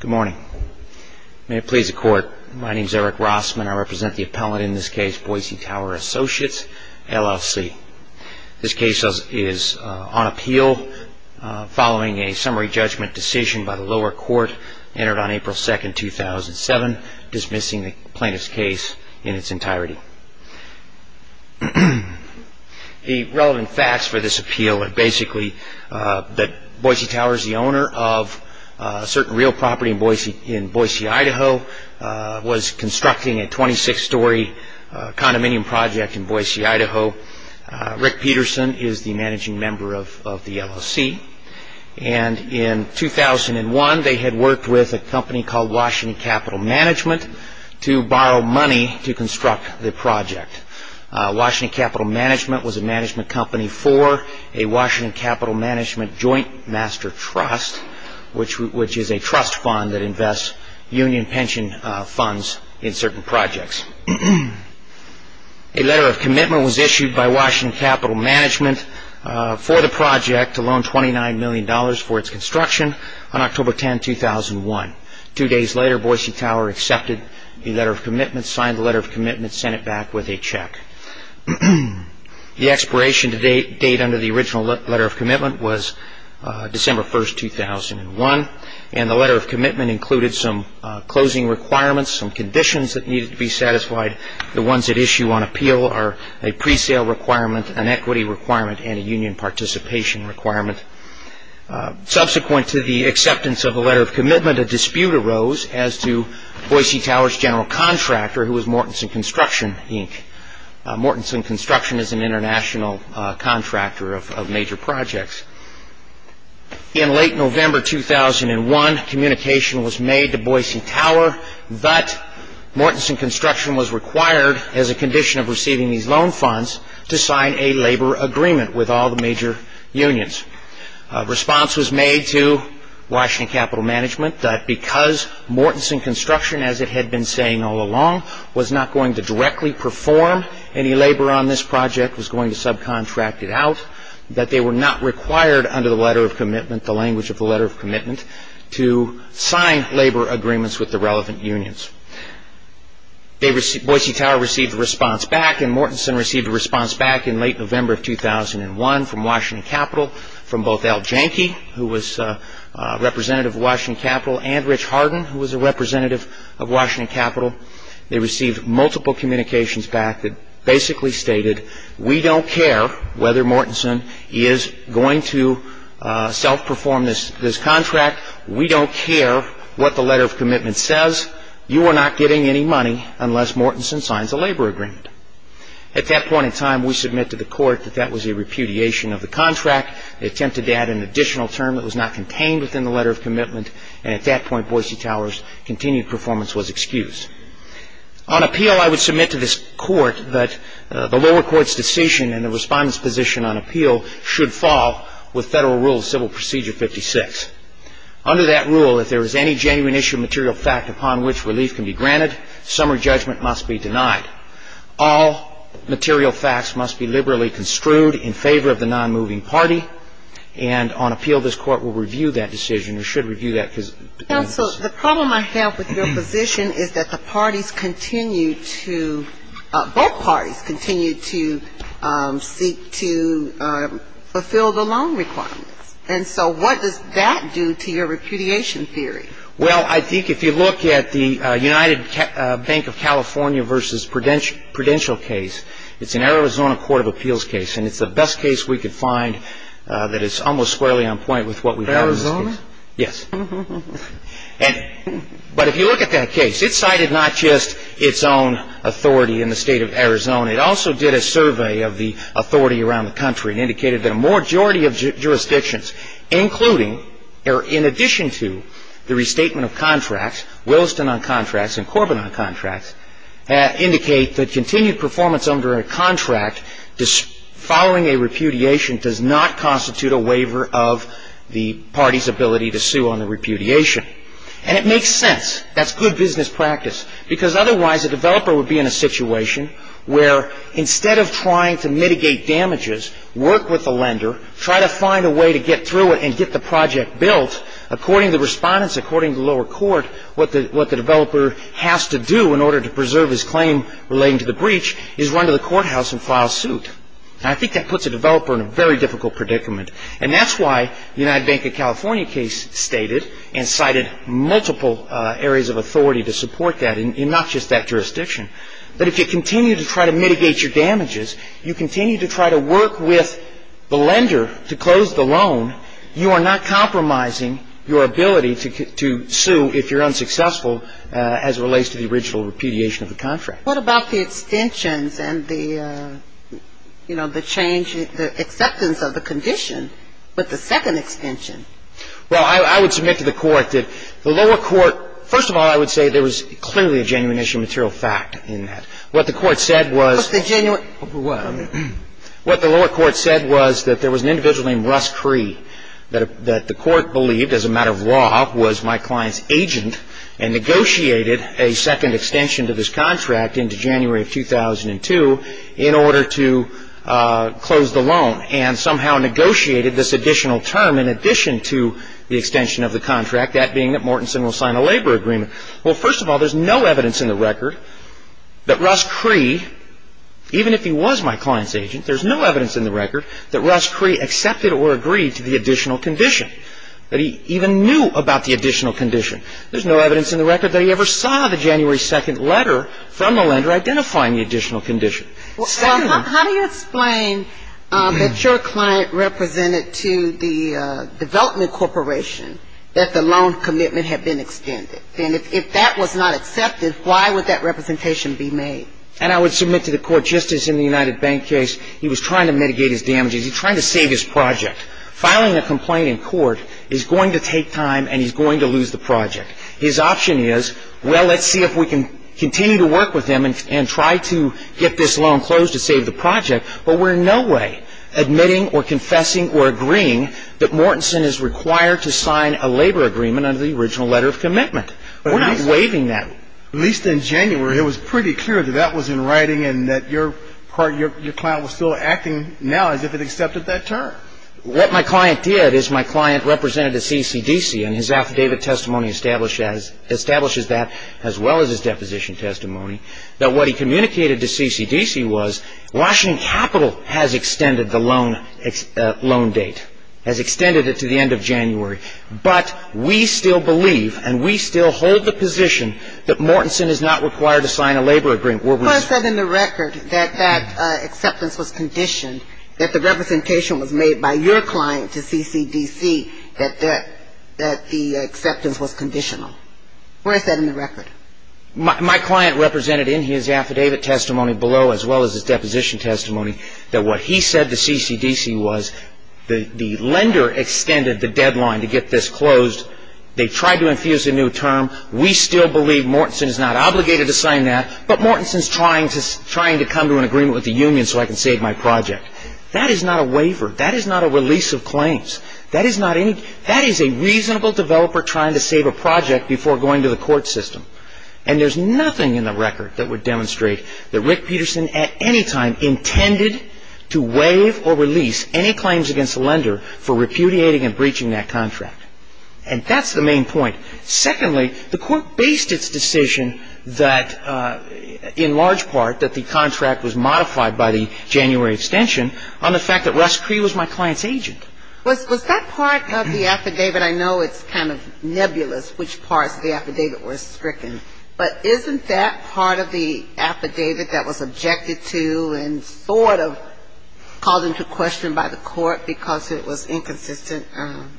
Good morning. May it please the Court, my name is Eric Rossman. I represent the appellant in this case, Boise Tower Associates, LLC. This case is on appeal following a summary judgment decision by the lower court entered on April 2, 2007, dismissing the plaintiff's case in its entirety. The relevant facts for this appeal are basically that Boise Tower is the owner of a certain real property in Boise, Idaho, was constructing a 26-story condominium project in Boise, Idaho. Rick Peterson is the managing member of the LLC. And in 2001, they had worked with a company called Washington Capital Management to borrow money to construct the project. Washington Capital Management was a management company for a Washington Capital Management joint master trust, which is a trust fund that invests union pension funds in certain projects. A letter of commitment was issued by Washington Capital Management for the project to loan $29 million for its construction on October 10, 2001. Two days later, Boise Tower accepted a letter of commitment, signed the letter of commitment, sent it back with a check. The expiration date under the original letter of commitment was December 1, 2001, and the letter of commitment included some closing requirements, some conditions that needed to be satisfied. The ones at issue on appeal are a pre-sale requirement, an equity requirement, and a union participation requirement. Subsequent to the acceptance of the letter of commitment, a dispute arose as to Boise Tower's general contractor, who was Mortenson Construction, Inc. Mortenson Construction is an international contractor of major projects. In late November 2001, communication was made to Boise Tower that Mortenson Construction was required, as a condition of receiving these loan funds, to sign a labor agreement with all the major unions. A response was made to Washington Capital Management that because Mortenson Construction, as it had been saying all along, was not going to directly perform any labor on this project, was going to subcontract it out, that they were not required under the letter of commitment, the language of the letter of commitment, to sign labor agreements with the relevant unions. Boise Tower received a response back, and Mortenson received a response back in late November 2001 from Washington Capital, from both Al Janke, who was representative of Washington Capital, and Rich Hardin, who was a representative of Washington Capital. They received multiple communications back that basically stated, we don't care whether Mortenson is going to self-perform this contract. We don't care what the letter of commitment says. You are not getting any money unless Mortenson signs a labor agreement. At that point in time, we submit to the court that that was a repudiation of the contract. They attempted to add an additional term that was not contained within the letter of commitment, and at that point, Boise Tower's continued performance was excused. On appeal, I would submit to this court that the lower court's decision and the respondent's position on appeal should fall with Federal Rule of Civil Procedure 56. Under that rule, if there is any genuine issue of material fact upon which relief can be granted, summary judgment must be denied. All material facts must be liberally construed in favor of the non-moving party, and on appeal, this court will review that decision or should review that decision. Counsel, the problem I have with your position is that the parties continue to, both parties continue to seek to fulfill the loan requirements, and so what does that do to your repudiation theory? Well, I think if you look at the United Bank of California v. Prudential case, it's an interesting case. It's a case that I think is almost squarely on point with what we've had in this case. Arizona? Yes. But if you look at that case, it cited not just its own authority in the State of Arizona. It also did a survey of the authority around the country and indicated that a majority of jurisdictions, including or in addition to the restatement of contracts, Williston on contracts and Corbin on contracts, indicate that continued performance under a contract following a repudiation does not constitute a waiver of the party's ability to sue on a repudiation. And it makes sense. That's good business practice, because otherwise a developer would be in a situation where instead of trying to mitigate damages, work with the lender, try to find a way to get through it and get the project built, according to the respondents, according to the lower court, what the developer has to do in order to preserve his claim relating to the breach is run to the courthouse and file suit. I think that puts a developer in a very difficult predicament. And that's why the United Bank of California case stated and cited multiple areas of authority to support that in not just that jurisdiction. But if you continue to try to mitigate your damages, you continue to try to work with the lender to close the loan, you are not compromising your ability to sue if you're unsuccessful as it relates to the original repudiation of the contract. What about the extensions and the, you know, the change, the acceptance of the condition with the second extension? Well, I would submit to the court that the lower court – first of all, I would say there was clearly a genuine issue of material fact in that. What the court said was – But the genuine – What the lower court said was that there was an individual named Russ Cree that the court believed as a matter of law was my client's agent and negotiated a second extension to this contract into January of 2002 in order to close the loan and somehow negotiated this additional term in addition to the extension of the contract, that being that Mortensen will sign a labor agreement. Well, first of all, there's no evidence in the record that Russ Cree, even if he was my client's agent, there's no evidence in the record that Russ Cree accepted or agreed to the additional condition, that he even knew about the additional condition. There's no evidence in the record that he ever saw the January 2nd letter from the lender identifying the additional condition. Well, how do you explain that your client represented to the development corporation that the loan commitment had been extended? And if that was not accepted, why would that representation be made? And I would submit to the court, just as in the United Bank case, he was trying to mitigate his damages. He was trying to save his project. Filing a complaint in court is going to take time and he's going to lose the project. His option is, well, let's see if we can continue to work with him and try to get this loan closed to save the project, but we're in no way admitting or confessing or agreeing that Mortensen is required to sign a labor agreement under the original letter of commitment. We're not waiving that. But at least in January, it was pretty clear that that was in writing and that your client was still acting now as if it accepted that term. What my client did is my client represented to CCDC and his affidavit testimony establishes that as well as his deposition testimony, that what he communicated to CCDC was Washington Capital has extended the loan date, has extended it to the end of January, but we still believe and we still hold the position that Mortensen is not required to sign a labor agreement where we're... Well, it said in the record that that acceptance was conditioned, that the representation was made by your client to CCDC that the acceptance was conditional. Where is that in the record? My client represented in his affidavit testimony below as well as his deposition testimony that what he said to CCDC was the lender extended the deadline to get this closed. They tried to infuse a new term. We still believe Mortensen is not obligated to sign that, but Mortensen is trying to come to an agreement with the union so I can save my project. That is not a waiver. That is not a release of claims. That is not any... That is a reasonable developer trying to save a project before going to the court system. And there's nothing in the record that would demonstrate that Rick Peterson at any time intended to waive or release any claims against the lender for repudiating and breaching that contract. And that's the main point. Secondly, the court based its decision that in large part that the contract was modified by the January extension on the fact that Russ Cree was my client's agent. Was that part of the affidavit? I know it's kind of nebulous which parts of the affidavit were stricken, but isn't that part of the affidavit that was objected to and sort of called into question by the court because it was inconsistent?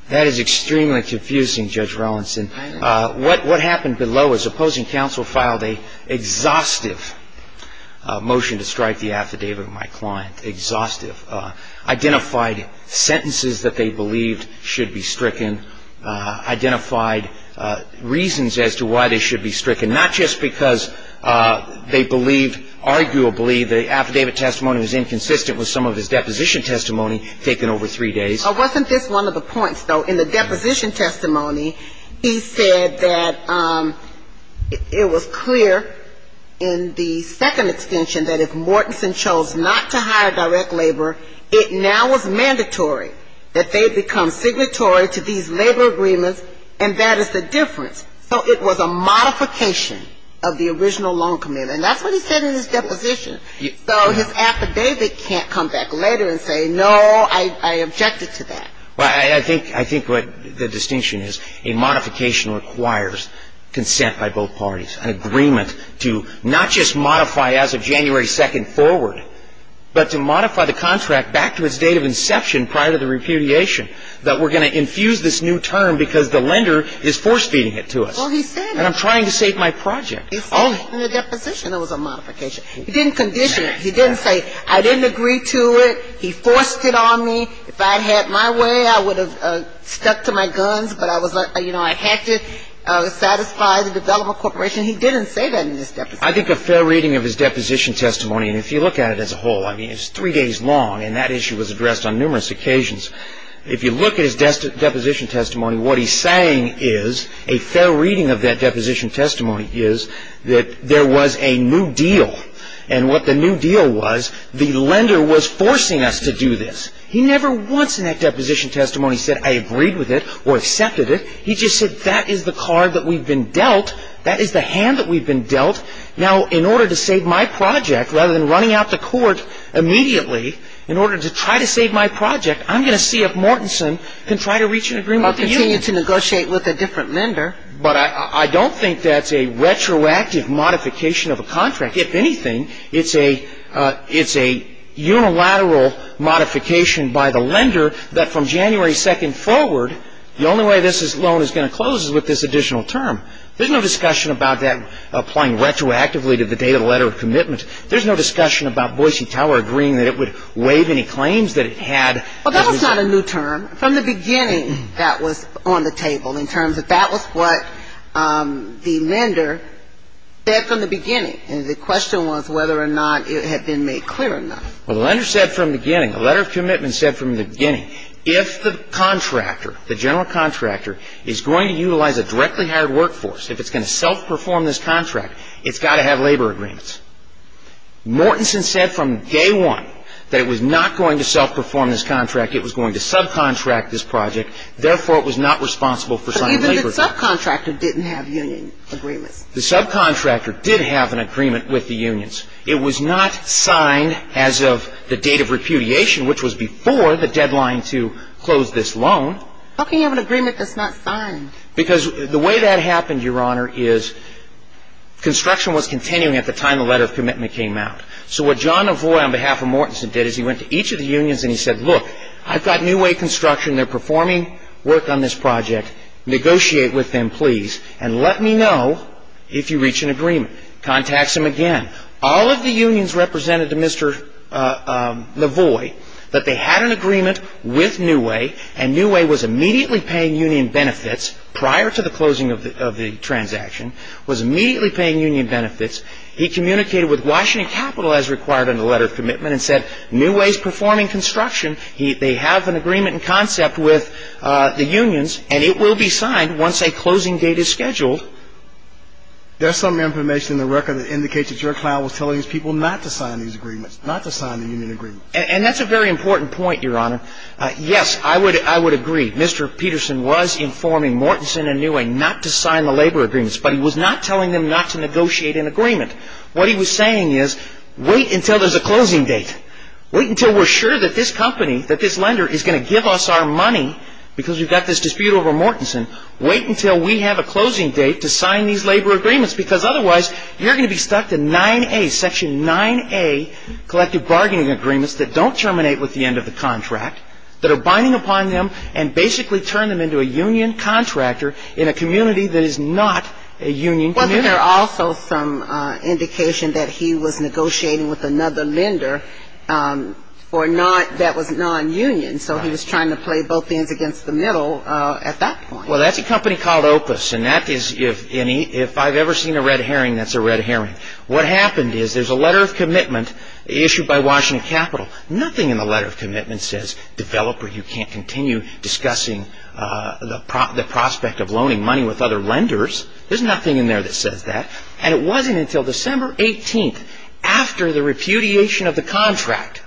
That is extremely confusing, Judge Rowanson. What happened below is opposing counsel filed a exhaustive motion to strike the affidavit of my client. Exhaustive. Identified sentences that they believed should be stricken. Identified reasons as to why they should be stricken. Not just because they believed arguably the affidavit testimony was inconsistent with some of his deposition testimony taken over three days. Wasn't this one of the points though? In the deposition testimony he said that it was clear in the second extension that if Mortenson chose not to hire direct labor, it now was mandatory that they become signatory to these labor agreements, and that is the difference. So it was a modification of the original loan commitment. That's what he said in his deposition. So his affidavit can't come back later and say, no, I objected to that. I think what the distinction is, a modification requires consent by both parties, an agreement to not just modify as of January 2nd forward, but to modify the contract back to its date of inception prior to the repudiation, that we're going to infuse this new term because the lender is force-feeding it to us. Well, he said it. And I'm trying to save my project. He said it in the deposition. It was a modification. He didn't condition it. He didn't say I didn't agree to it. He forced it on me. If I'd had my way, I would have stuck to my guns, but I was, you know, I had to satisfy the development corporation. He didn't say that in his deposition. I think a fair reading of his deposition testimony, and if you look at it as a whole, I mean, it's three days long, and that issue was addressed on numerous occasions. If you look at his deposition testimony, what he's saying is, a fair reading of that deposition testimony is that there was a new deal, and what the new deal was, the lender was forcing us to do this. He never once in that deposition testimony said, I agreed with it or accepted it. He just said, that is the card that we've been dealt. That is the hand that we've been dealt. Now, in order to save my project, rather than running out to court immediately in order to try to save my project, I'm going to see if Mortenson can try to reach an agreement with the union. Well, continue to negotiate with a different lender. But I don't think that's a retroactive modification of a contract. If anything, it's a unilateral modification by the lender that from January 2nd forward, the only way this loan is going to close is with this additional term. There's no discussion about that applying retroactively to the date of the letter of commitment. There's no discussion about Boise Tower agreeing that it would waive any claims that it had. Well, that was not a new term. From the beginning, that was on the table in terms of that was what the lender said from the beginning. And the question was whether or not it had been made clear or not. Well, the lender said from the beginning, the letter of commitment said from the beginning, if the contractor, the general contractor, is going to utilize a directly hired workforce, if it's going to self-perform this contract, it's got to have labor agreements. Mortenson said from day one that it was not going to self-perform this contract. It was going to subcontract this project. Therefore, it was not responsible for signing labor agreements. But the subcontractor didn't have union agreements. The subcontractor did have an agreement with the unions. It was not signed as of the date of repudiation, which was before the deadline to close this loan. How can you have an agreement that's not signed? Because the way that happened, Your Honor, is construction was continuing at the time the letter of commitment came out. So what John Novoi on behalf of Mortenson did is he went to each of the unions and he said, look, I've got New Way Construction. They're performing work on this project. Negotiate with them, please. And let me know if you reach an agreement. Contacts him again. All of the unions represented to Mr. Novoi that they had an agreement with New Way and New Way was immediately paying union benefits prior to the closing of the transaction, was immediately paying union benefits. He communicated with Washington Capital as required in the letter of commitment and said, New Way's performing construction. They have an agreement in concept with the unions and it will be signed once a closing date is scheduled. There's some information in the record that indicates that your client was telling his people not to sign these agreements, not to sign the union agreements. And that's a very important point, Your Honor. Yes, I would agree. Mr. Peterson was informing Mortenson and New Way not to sign the labor agreements, but he was not telling them not to negotiate an agreement. What he was saying is, wait until there's a closing date. Wait until we're sure that this company, that this lender is going to give us our money because we've got this dispute over Mortenson. Wait until we have a closing date to sign these labor agreements because otherwise you're going to be stuck to 9A, Section 9A collective bargaining agreements that don't terminate with the end of the contract, that are binding upon them and basically turn them into a union contractor in a community that is not a union community. Well, but there's also some indication that he was negotiating with another lender that was non-union, so he was trying to play both ends against the middle at that point. Well, that's a company called Opus, and if I've ever seen a red herring, that's a red herring. What happened is there's a letter of commitment issued by Washington Capital. Nothing in the letter of commitment says, developer, you can't continue discussing the Opus says that, and it wasn't until December 18th, after the repudiation of the contract,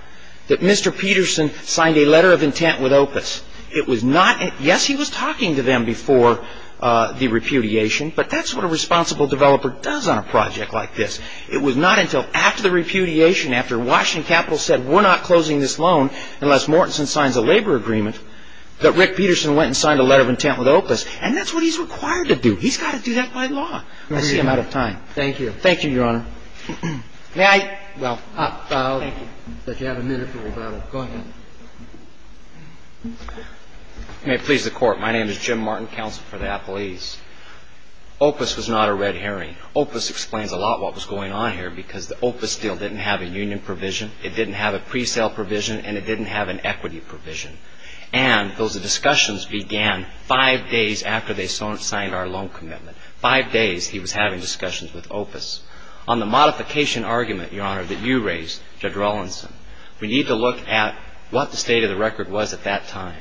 that Mr. Peterson signed a letter of intent with Opus. It was not, yes, he was talking to them before the repudiation, but that's what a responsible developer does on a project like this. It was not until after the repudiation, after Washington Capital said, we're not closing this loan unless Mortenson signs a labor agreement, that Rick Peterson went and signed a letter of intent with Opus, and that's what he's required to do. He's got to do that by law. I see I'm out of time. Thank you. Thank you, Your Honor. May I? Well, I'll let you have a minute for rebuttal. Go ahead. May it please the Court. My name is Jim Martin, counsel for the appellees. Opus was not a red herring. Opus explains a lot what was going on here, because the Opus deal didn't have a union provision, it didn't have a pre-sale provision, and it didn't have an equity provision. And those discussions began five days after they signed our loan commitment. Five days he was having discussions with Opus. On the modification argument, Your Honor, that you raised, Judge Rawlinson, we need to look at what the state of the record was at that time.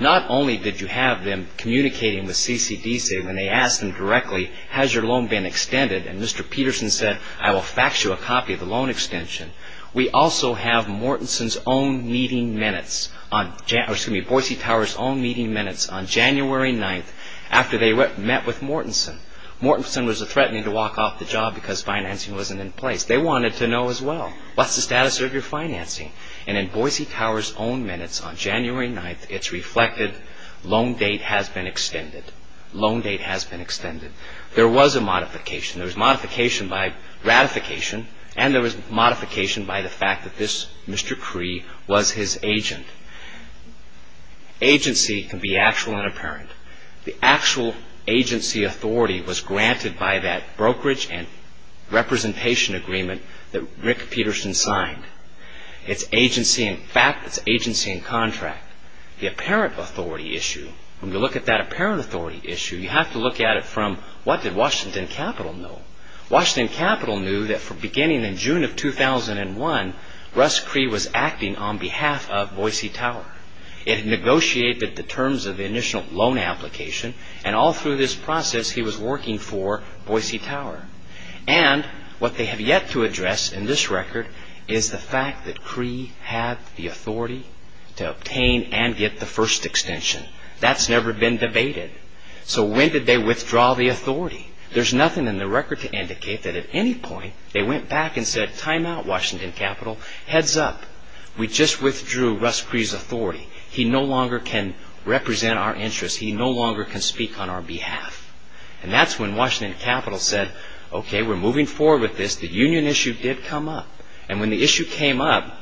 Not only did you have them communicating with CCDC when they asked him directly, has your loan been extended? And Mr. Peterson said, I will fax you a copy of the loan extension. We also have Mortenson's own meeting minutes on January 9th after they met with Mortenson. Mortenson was threatening to walk off the job because financing wasn't in place. They wanted to know as well, what's the status of your financing? And in Boise Tower's own minutes on January 9th, it's reflected, loan date has been extended. Loan date has been extended. There was a modification. There was modification by ratification, and there was modification by the fact that this Mr. Peterson. Agency can be actual and apparent. The actual agency authority was granted by that brokerage and representation agreement that Rick Peterson signed. It's agency in fact, it's agency in contract. The apparent authority issue, when you look at that apparent authority issue, you have to look at it from what did Washington Capital know? Washington had negotiated the terms of the initial loan application, and all through this process he was working for Boise Tower. And what they have yet to address in this record is the fact that Cree had the authority to obtain and get the first extension. That's never been debated. So when did they withdraw the authority? There's nothing in the record to indicate that at any point they went back and said, time out Washington Capital, heads up. We just withdrew Russ Cree's authority. He no longer can represent our interests. He no longer can speak on our behalf. And that's when Washington Capital said, okay, we're moving forward with this. The union issue did come up. And when the issue came up,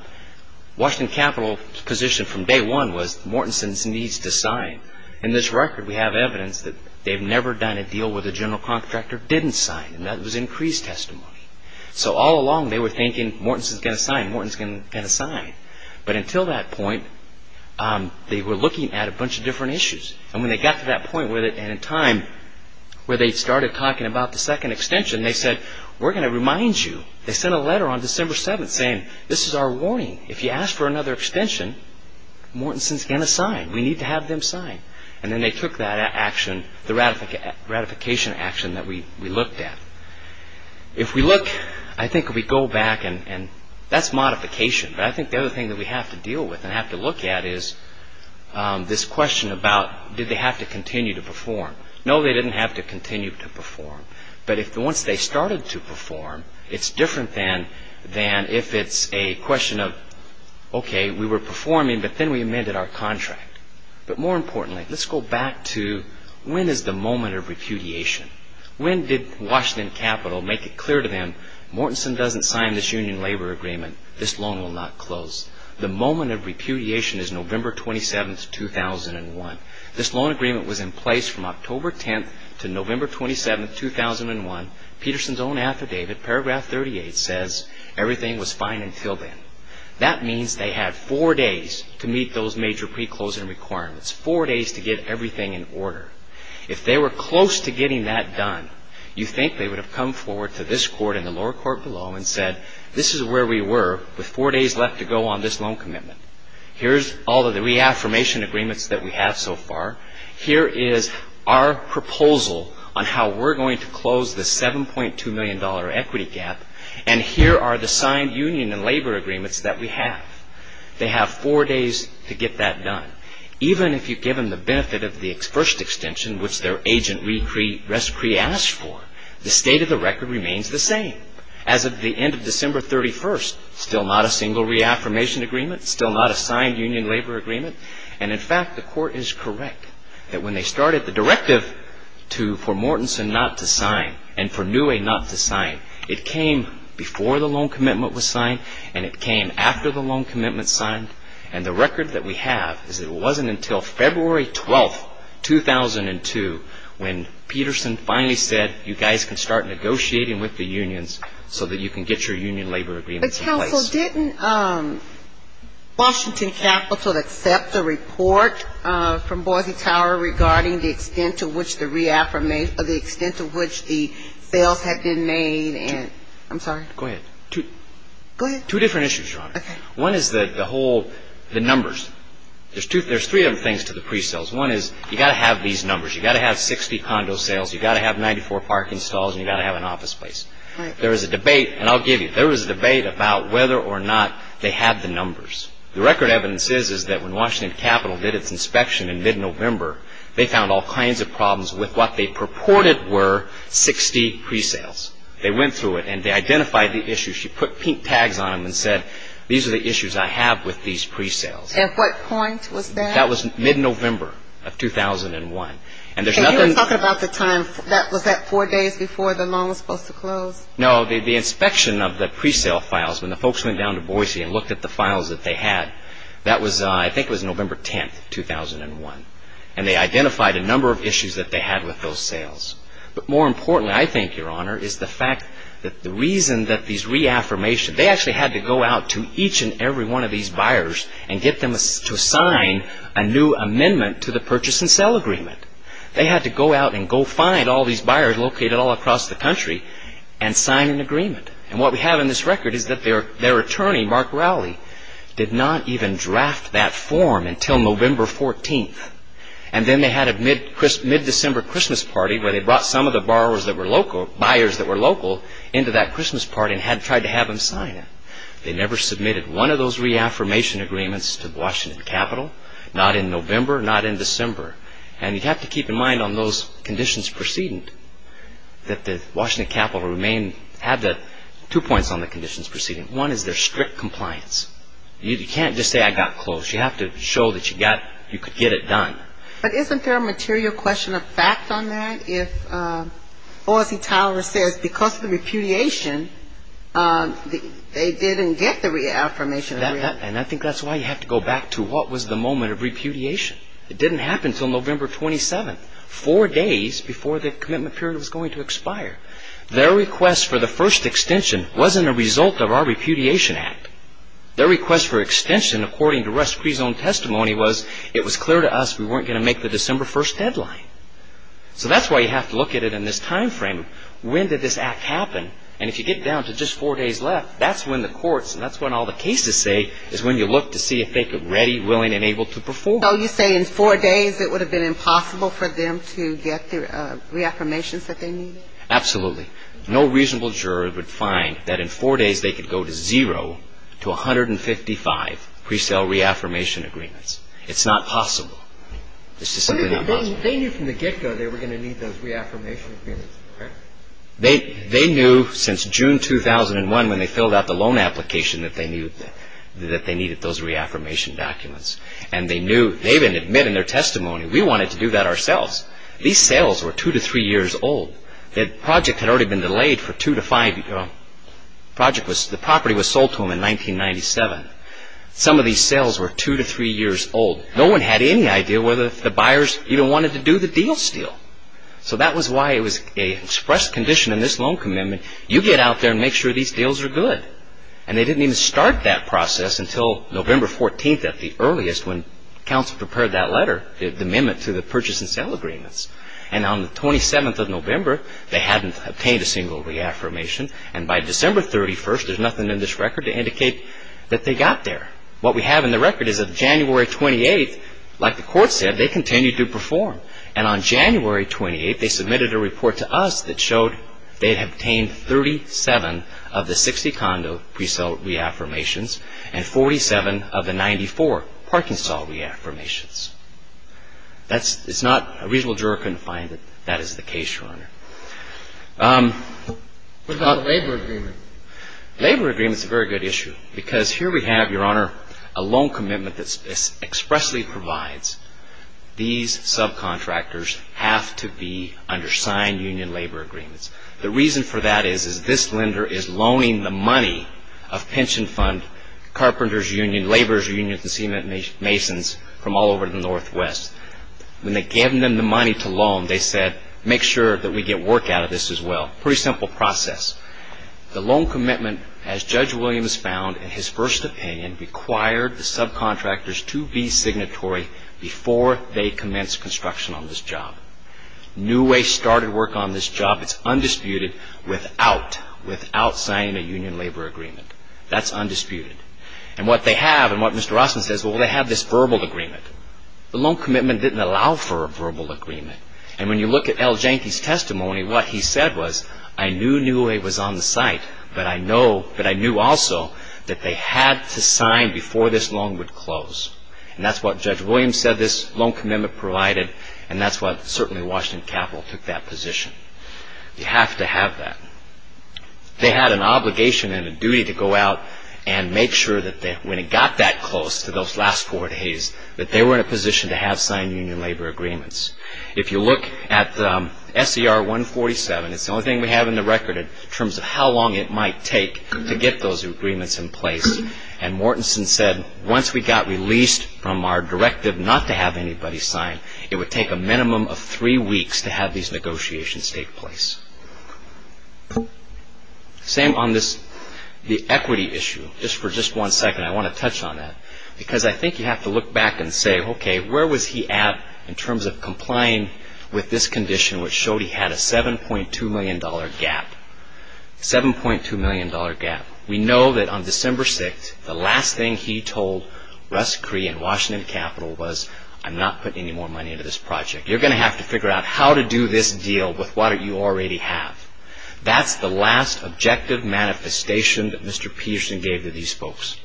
Washington Capital's position from day one was Mortensen needs to sign. In this record we have evidence that they've never done a deal where the general contractor didn't sign, and that was in Cree's testimony. So all along they were thinking, Mortensen's going to sign, Mortensen's going to sign. But until that point, they were looking at a bunch of different issues. And when they got to that point, and in time, where they started talking about the second extension, they said, we're going to remind you. They sent a letter on December 7th saying, this is our warning. If you ask for another extension, Mortensen's going to sign. We need to have them sign. And then they took that action, the ratification action that we looked at. If we look, I think if we go back, and that's modification, but I think the other thing that we have to deal with and have to look at is this question about did they have to continue to perform. No, they didn't have to continue to perform. But if once they started to perform, it's different than if it's a question of, okay, we were performing, but then we amended our contract. But more importantly, let's go back to when is the moment of repudiation? When did Washington Capital make it clear to them, Mortensen doesn't sign this union labor agreement. This loan will not close. The moment of repudiation is November 27th, 2001. This loan agreement was in place from October 10th to November 27th, 2001. Peterson's own affidavit, paragraph 38, says, everything was fine until then. That means they had four days to meet those major pre-closing requirements, four days to get everything in order. If they were close to getting that done, you think they would have come forward to this court and the lower court below and said, this is where we were with four days left to go on this loan commitment. Here's all of the reaffirmation agreements that we have so far. Here is our proposal on how we're going to close the $7.2 million equity gap. And here are the signed union and labor agreements that we have. They have four days to get that done. Even if you give them the benefit of the first extension, which their agent re-asked for, the state of the record remains the same. As of the end of December 31st, still not a single reaffirmation agreement, still not a signed union labor agreement. And in fact, the court is correct that when they started the directive for Mortensen not to sign and for Newey not to sign, it came before the loan commitment was signed and it came after the loan commitment was signed. And the record that we have is it wasn't until February 12th, 2002, when Peterson finally said, you guys can start negotiating with the unions so that you can get your union labor agreements in place. But counsel, didn't Washington Capitol accept the report from Boise Tower regarding the extent to which the reaffirmation or the extent to which the sales had been made and I'm sorry. Go ahead. Go ahead. Two different issues, Your Honor. Okay. One is the whole, the numbers. There's two, there's three different things to the pre-sales. One is you got to have these numbers. You got to have 60 condo sales. You got to have 94 parking stalls and you got to have an office space. Right. There was a debate, and I'll give you, there was a debate about whether or not they had the numbers. The record evidence is, is that when Washington Capitol did its inspection in mid-November, they found all kinds of problems with what they purported were 60 pre-sales. They went through it and they identified the issues. She put pink tags on them and said, these are the issues I have with these pre-sales. At what point was that? That was mid-November of 2001. And there's nothing And you were talking about the time, was that four days before the mall was supposed to close? No. The inspection of the pre-sale files, when the folks went down to Boise and looked at the files that they had, that was, I think it was November 10th, 2001. And they identified a number of issues that they had with those sales. But more importantly, I think, Your Honor, is the fact that the reason that these reaffirmations, they actually had to go out to each and every one of these buyers and get them to sign a new amendment to the purchase and sale agreement. They had to go out and go find all these buyers located all across the country and sign an agreement. And what we have in this record is that their attorney, Mark Rowley, did not even draft that form until November 14th. And then they had a mid-December Christmas party where they brought some of the borrowers that were local, buyers that were local, into that Christmas party and tried to have them sign it. They never submitted one of those reaffirmation agreements to Washington Capitol, not in November, not in December. And you have to keep in mind on those conditions preceding that the Washington Capitol remain, have the, two points on the conditions preceding. One is their strict compliance. You can't just say, I got close. You have to show that you got, you could get it done. But isn't there a material question of fact on that? If O. S. E. Tyler says because of the repudiation, they didn't get the reaffirmation agreement. And I think that's why you have to go back to what was the moment of repudiation. It didn't happen until November 27th, four days before the commitment period was going to expire. Their request for the first extension wasn't a result of our repudiation act. Their request for extension according to rest pre-zoned testimony was it was clear to us we weren't going to make the December 1st deadline. So that's why you have to look at it in this time frame. When did this act happen? And if you get down to just four days left, that's when the courts and that's when all the cases say is when you look to see if they could ready, willing and able to perform. So you say in four days it would have been impossible for them to get the reaffirmations that they needed? Absolutely. No reasonable juror would find that in four days they could go to zero to 155 pre-sale reaffirmation agreements. It's not possible. This is simply not possible. They knew from the get-go they were going to need those reaffirmation agreements, correct? They knew since June 2001 when they filled out the loan application that they needed those reaffirmation documents. And they knew, they even admitted in their testimony we wanted to do that ourselves. These sales were two to three years old. The project had already sold to them in 1997. Some of these sales were two to three years old. No one had any idea whether the buyers even wanted to do the deal steal. So that was why it was an express condition in this loan commitment. You get out there and make sure these deals are good. And they didn't even start that process until November 14th at the earliest when counsel prepared that letter, the amendment to the purchase and sale agreements. And on the 27th of November, they hadn't obtained a single reaffirmation. And by December 31st, there's nothing in this record to indicate that they got there. What we have in the record is that January 28th, like the court said, they continued to perform. And on January 28th, they submitted a report to us that showed they had obtained 37 of the 60 condo pre-sale reaffirmations and 47 of the 94 parking sale reaffirmations. It's not a reasonable juror couldn't find that that is the case, Your Honor. What about the labor agreement? Labor agreement is a very good issue. Because here we have, Your Honor, a loan commitment that expressly provides these subcontractors have to be under signed union labor agreements. The reason for that is this lender is loaning the money of pension fund, carpenters union, laborers union, and cement masons from all over the Northwest. When they gave them the work out of this as well, pretty simple process. The loan commitment, as Judge Williams found in his first opinion, required the subcontractors to be signatory before they commenced construction on this job. New Way started work on this job. It's undisputed without signing a union labor agreement. That's undisputed. And what they have and what Mr. Rossman says, well, they have this verbal agreement. The loan commitment didn't allow for a verbal agreement. And when you look at L. Janky's testimony, what he said was, I knew New Way was on the site, but I knew also that they had to sign before this loan would close. And that's what Judge Williams said this loan commitment provided, and that's what certainly Washington Capital took that position. You have to have that. They had an obligation and a duty to go out and make sure that when it got that close to those last four days, that they were in a position to have signed union labor agreements. If you look at SCR 147, it's the only thing we have in the record in terms of how long it might take to get those agreements in place. And Mortenson said, once we got released from our directive not to have anybody sign, it would take a minimum of three weeks to have these negotiations take place. Same on this, the equity issue. Just for just one second, I want to touch on that. Because I think you have to look back and say, okay, where was he at in terms of complying with this condition which showed he had a $7.2 million gap? $7.2 million gap. We know that on December 6th, the last thing he told Russ Cree and Washington Capital was, I'm not putting any more money into this project. You're going to have to figure out how to do this deal with what you already have. That's the last objective manifestation that Mr. Peterson gave to these folks.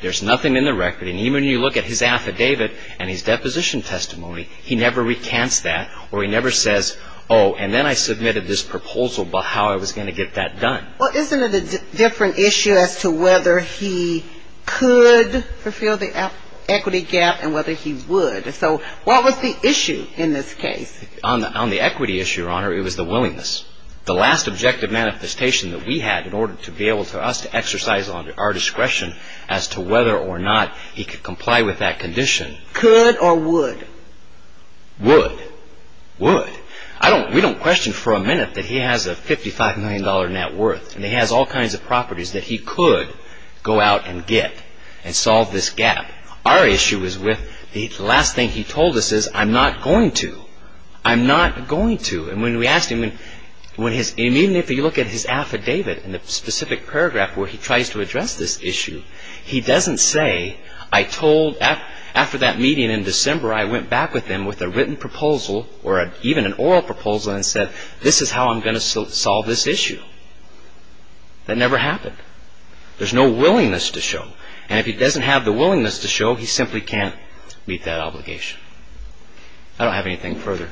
There's nothing in the record. And even when you look at his affidavit and his deposition testimony, he never recants that or he never says, oh, and then I submitted this proposal about how I was going to get that done. Well, isn't it a different issue as to whether he could fulfill the equity gap and whether he would? So what was the issue in this case? On the equity issue, Your Honor, it was the willingness. The last objective manifestation that we had in order for us to exercise our discretion as to whether or not he could comply with that condition. Could or would? Would. Would. We don't question for a minute that he has a $55 million net worth. He has all kinds of properties that he could go out and get and solve this gap. Our issue is with the last thing he told us is, I'm not going to. I'm not going to. And when we asked him, and even if you look at his affidavit in the specific paragraph where he tries to address this issue, he doesn't say, I told after that meeting in December, I went back with him with a written proposal or even an oral proposal and said, this is how I'm going to solve this issue. That never happened. There's no willingness to show. And if he doesn't have the willingness to show, he simply can't meet that obligation. I don't have anything further.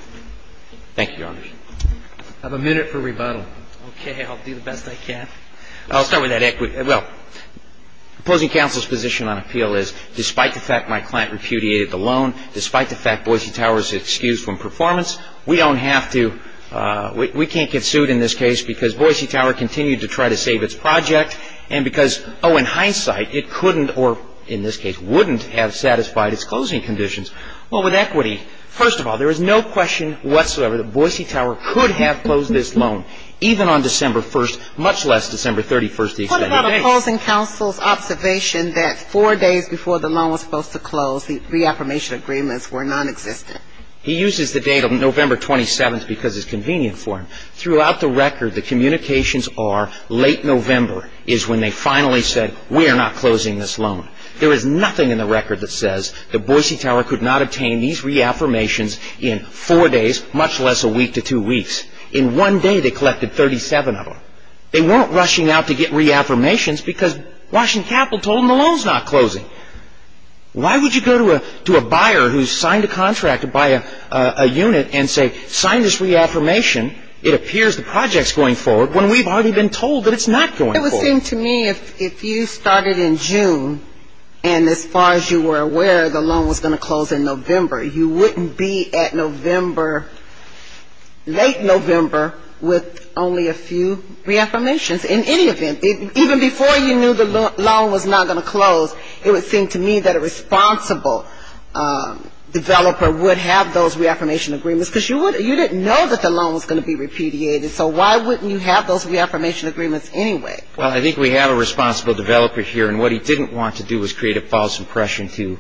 Thank you, Your Honor. I have a minute for rebuttal. Okay. I'll do the best I can. I'll start with that equity. Well, opposing counsel's position on appeal is, despite the fact my client repudiated the loan, despite the fact Boise Tower is excused from performance, we don't have to, we can't get sued in this case because Boise Tower continued to try to save its project and because, oh, in hindsight, it couldn't or in this case wouldn't have satisfied its closing conditions. Well, with equity, first of all, there is no question whatsoever that Boise Tower could have closed this loan, even on December 1st, much less December 31st, the extended date. What about opposing counsel's observation that four days before the loan was supposed to close, the reaffirmation agreements were nonexistent? He uses the date of November 27th because it's convenient for him. Throughout the record, the communications are late November is when they finally said, we are not closing this loan. There is nothing in the record that says that Boise Tower could not obtain these reaffirmations in four days, much less a week to two weeks. In one day, they collected 37 of them. They weren't rushing out to get reaffirmations because Washington Capital told them the loan's not closing. Why would you go to a buyer who's signed a contract to buy a unit and say, sign this reaffirmation. It appears the project's going forward when we've already been told that it's not going forward. It would seem to me if you started in June and as far as you were aware, the loan was going to close in November, you wouldn't be at November, late November, with only a few reaffirmations in any event. Even before you knew the loan was not going to close, it would seem to me that a responsible developer would have those reaffirmation agreements because you didn't know that the loan was going to be repudiated. So why wouldn't you have those reaffirmation agreements anyway? Well, I think we have a responsible developer here. And what he didn't want to do was create false impression to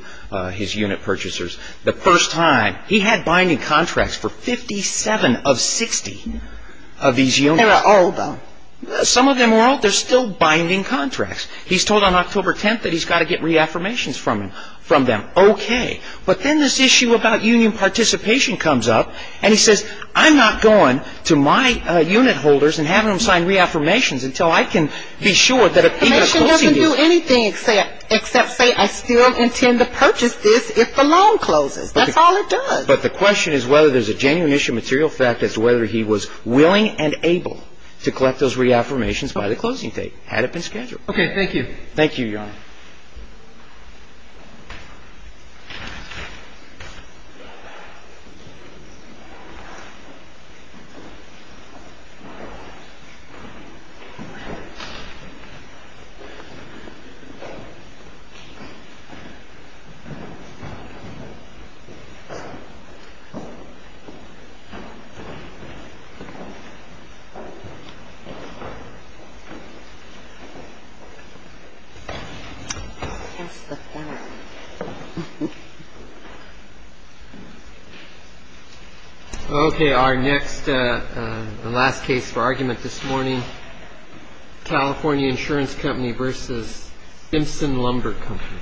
his unit purchasers. The first time, he had binding contracts for 57 of 60 of these units. There are all of them. Some of them were all, they're still binding contracts. He's told on October 10th that he's got to get reaffirmations from them. Okay. But then this issue about union participation comes up and he says, I'm not going to my unit holders and having them sign reaffirmations I can't do anything except say, I still intend to purchase this if the loan closes. That's all it does. But the question is whether there's a genuine issue of material fact as to whether he was willing and able to collect those reaffirmations by the closing date, had it been scheduled. Okay. Thank you. Thank you, Your Honor. Okay. Our next, the last case for argument this morning, California Insurance Company versus Simpson Lumber Company.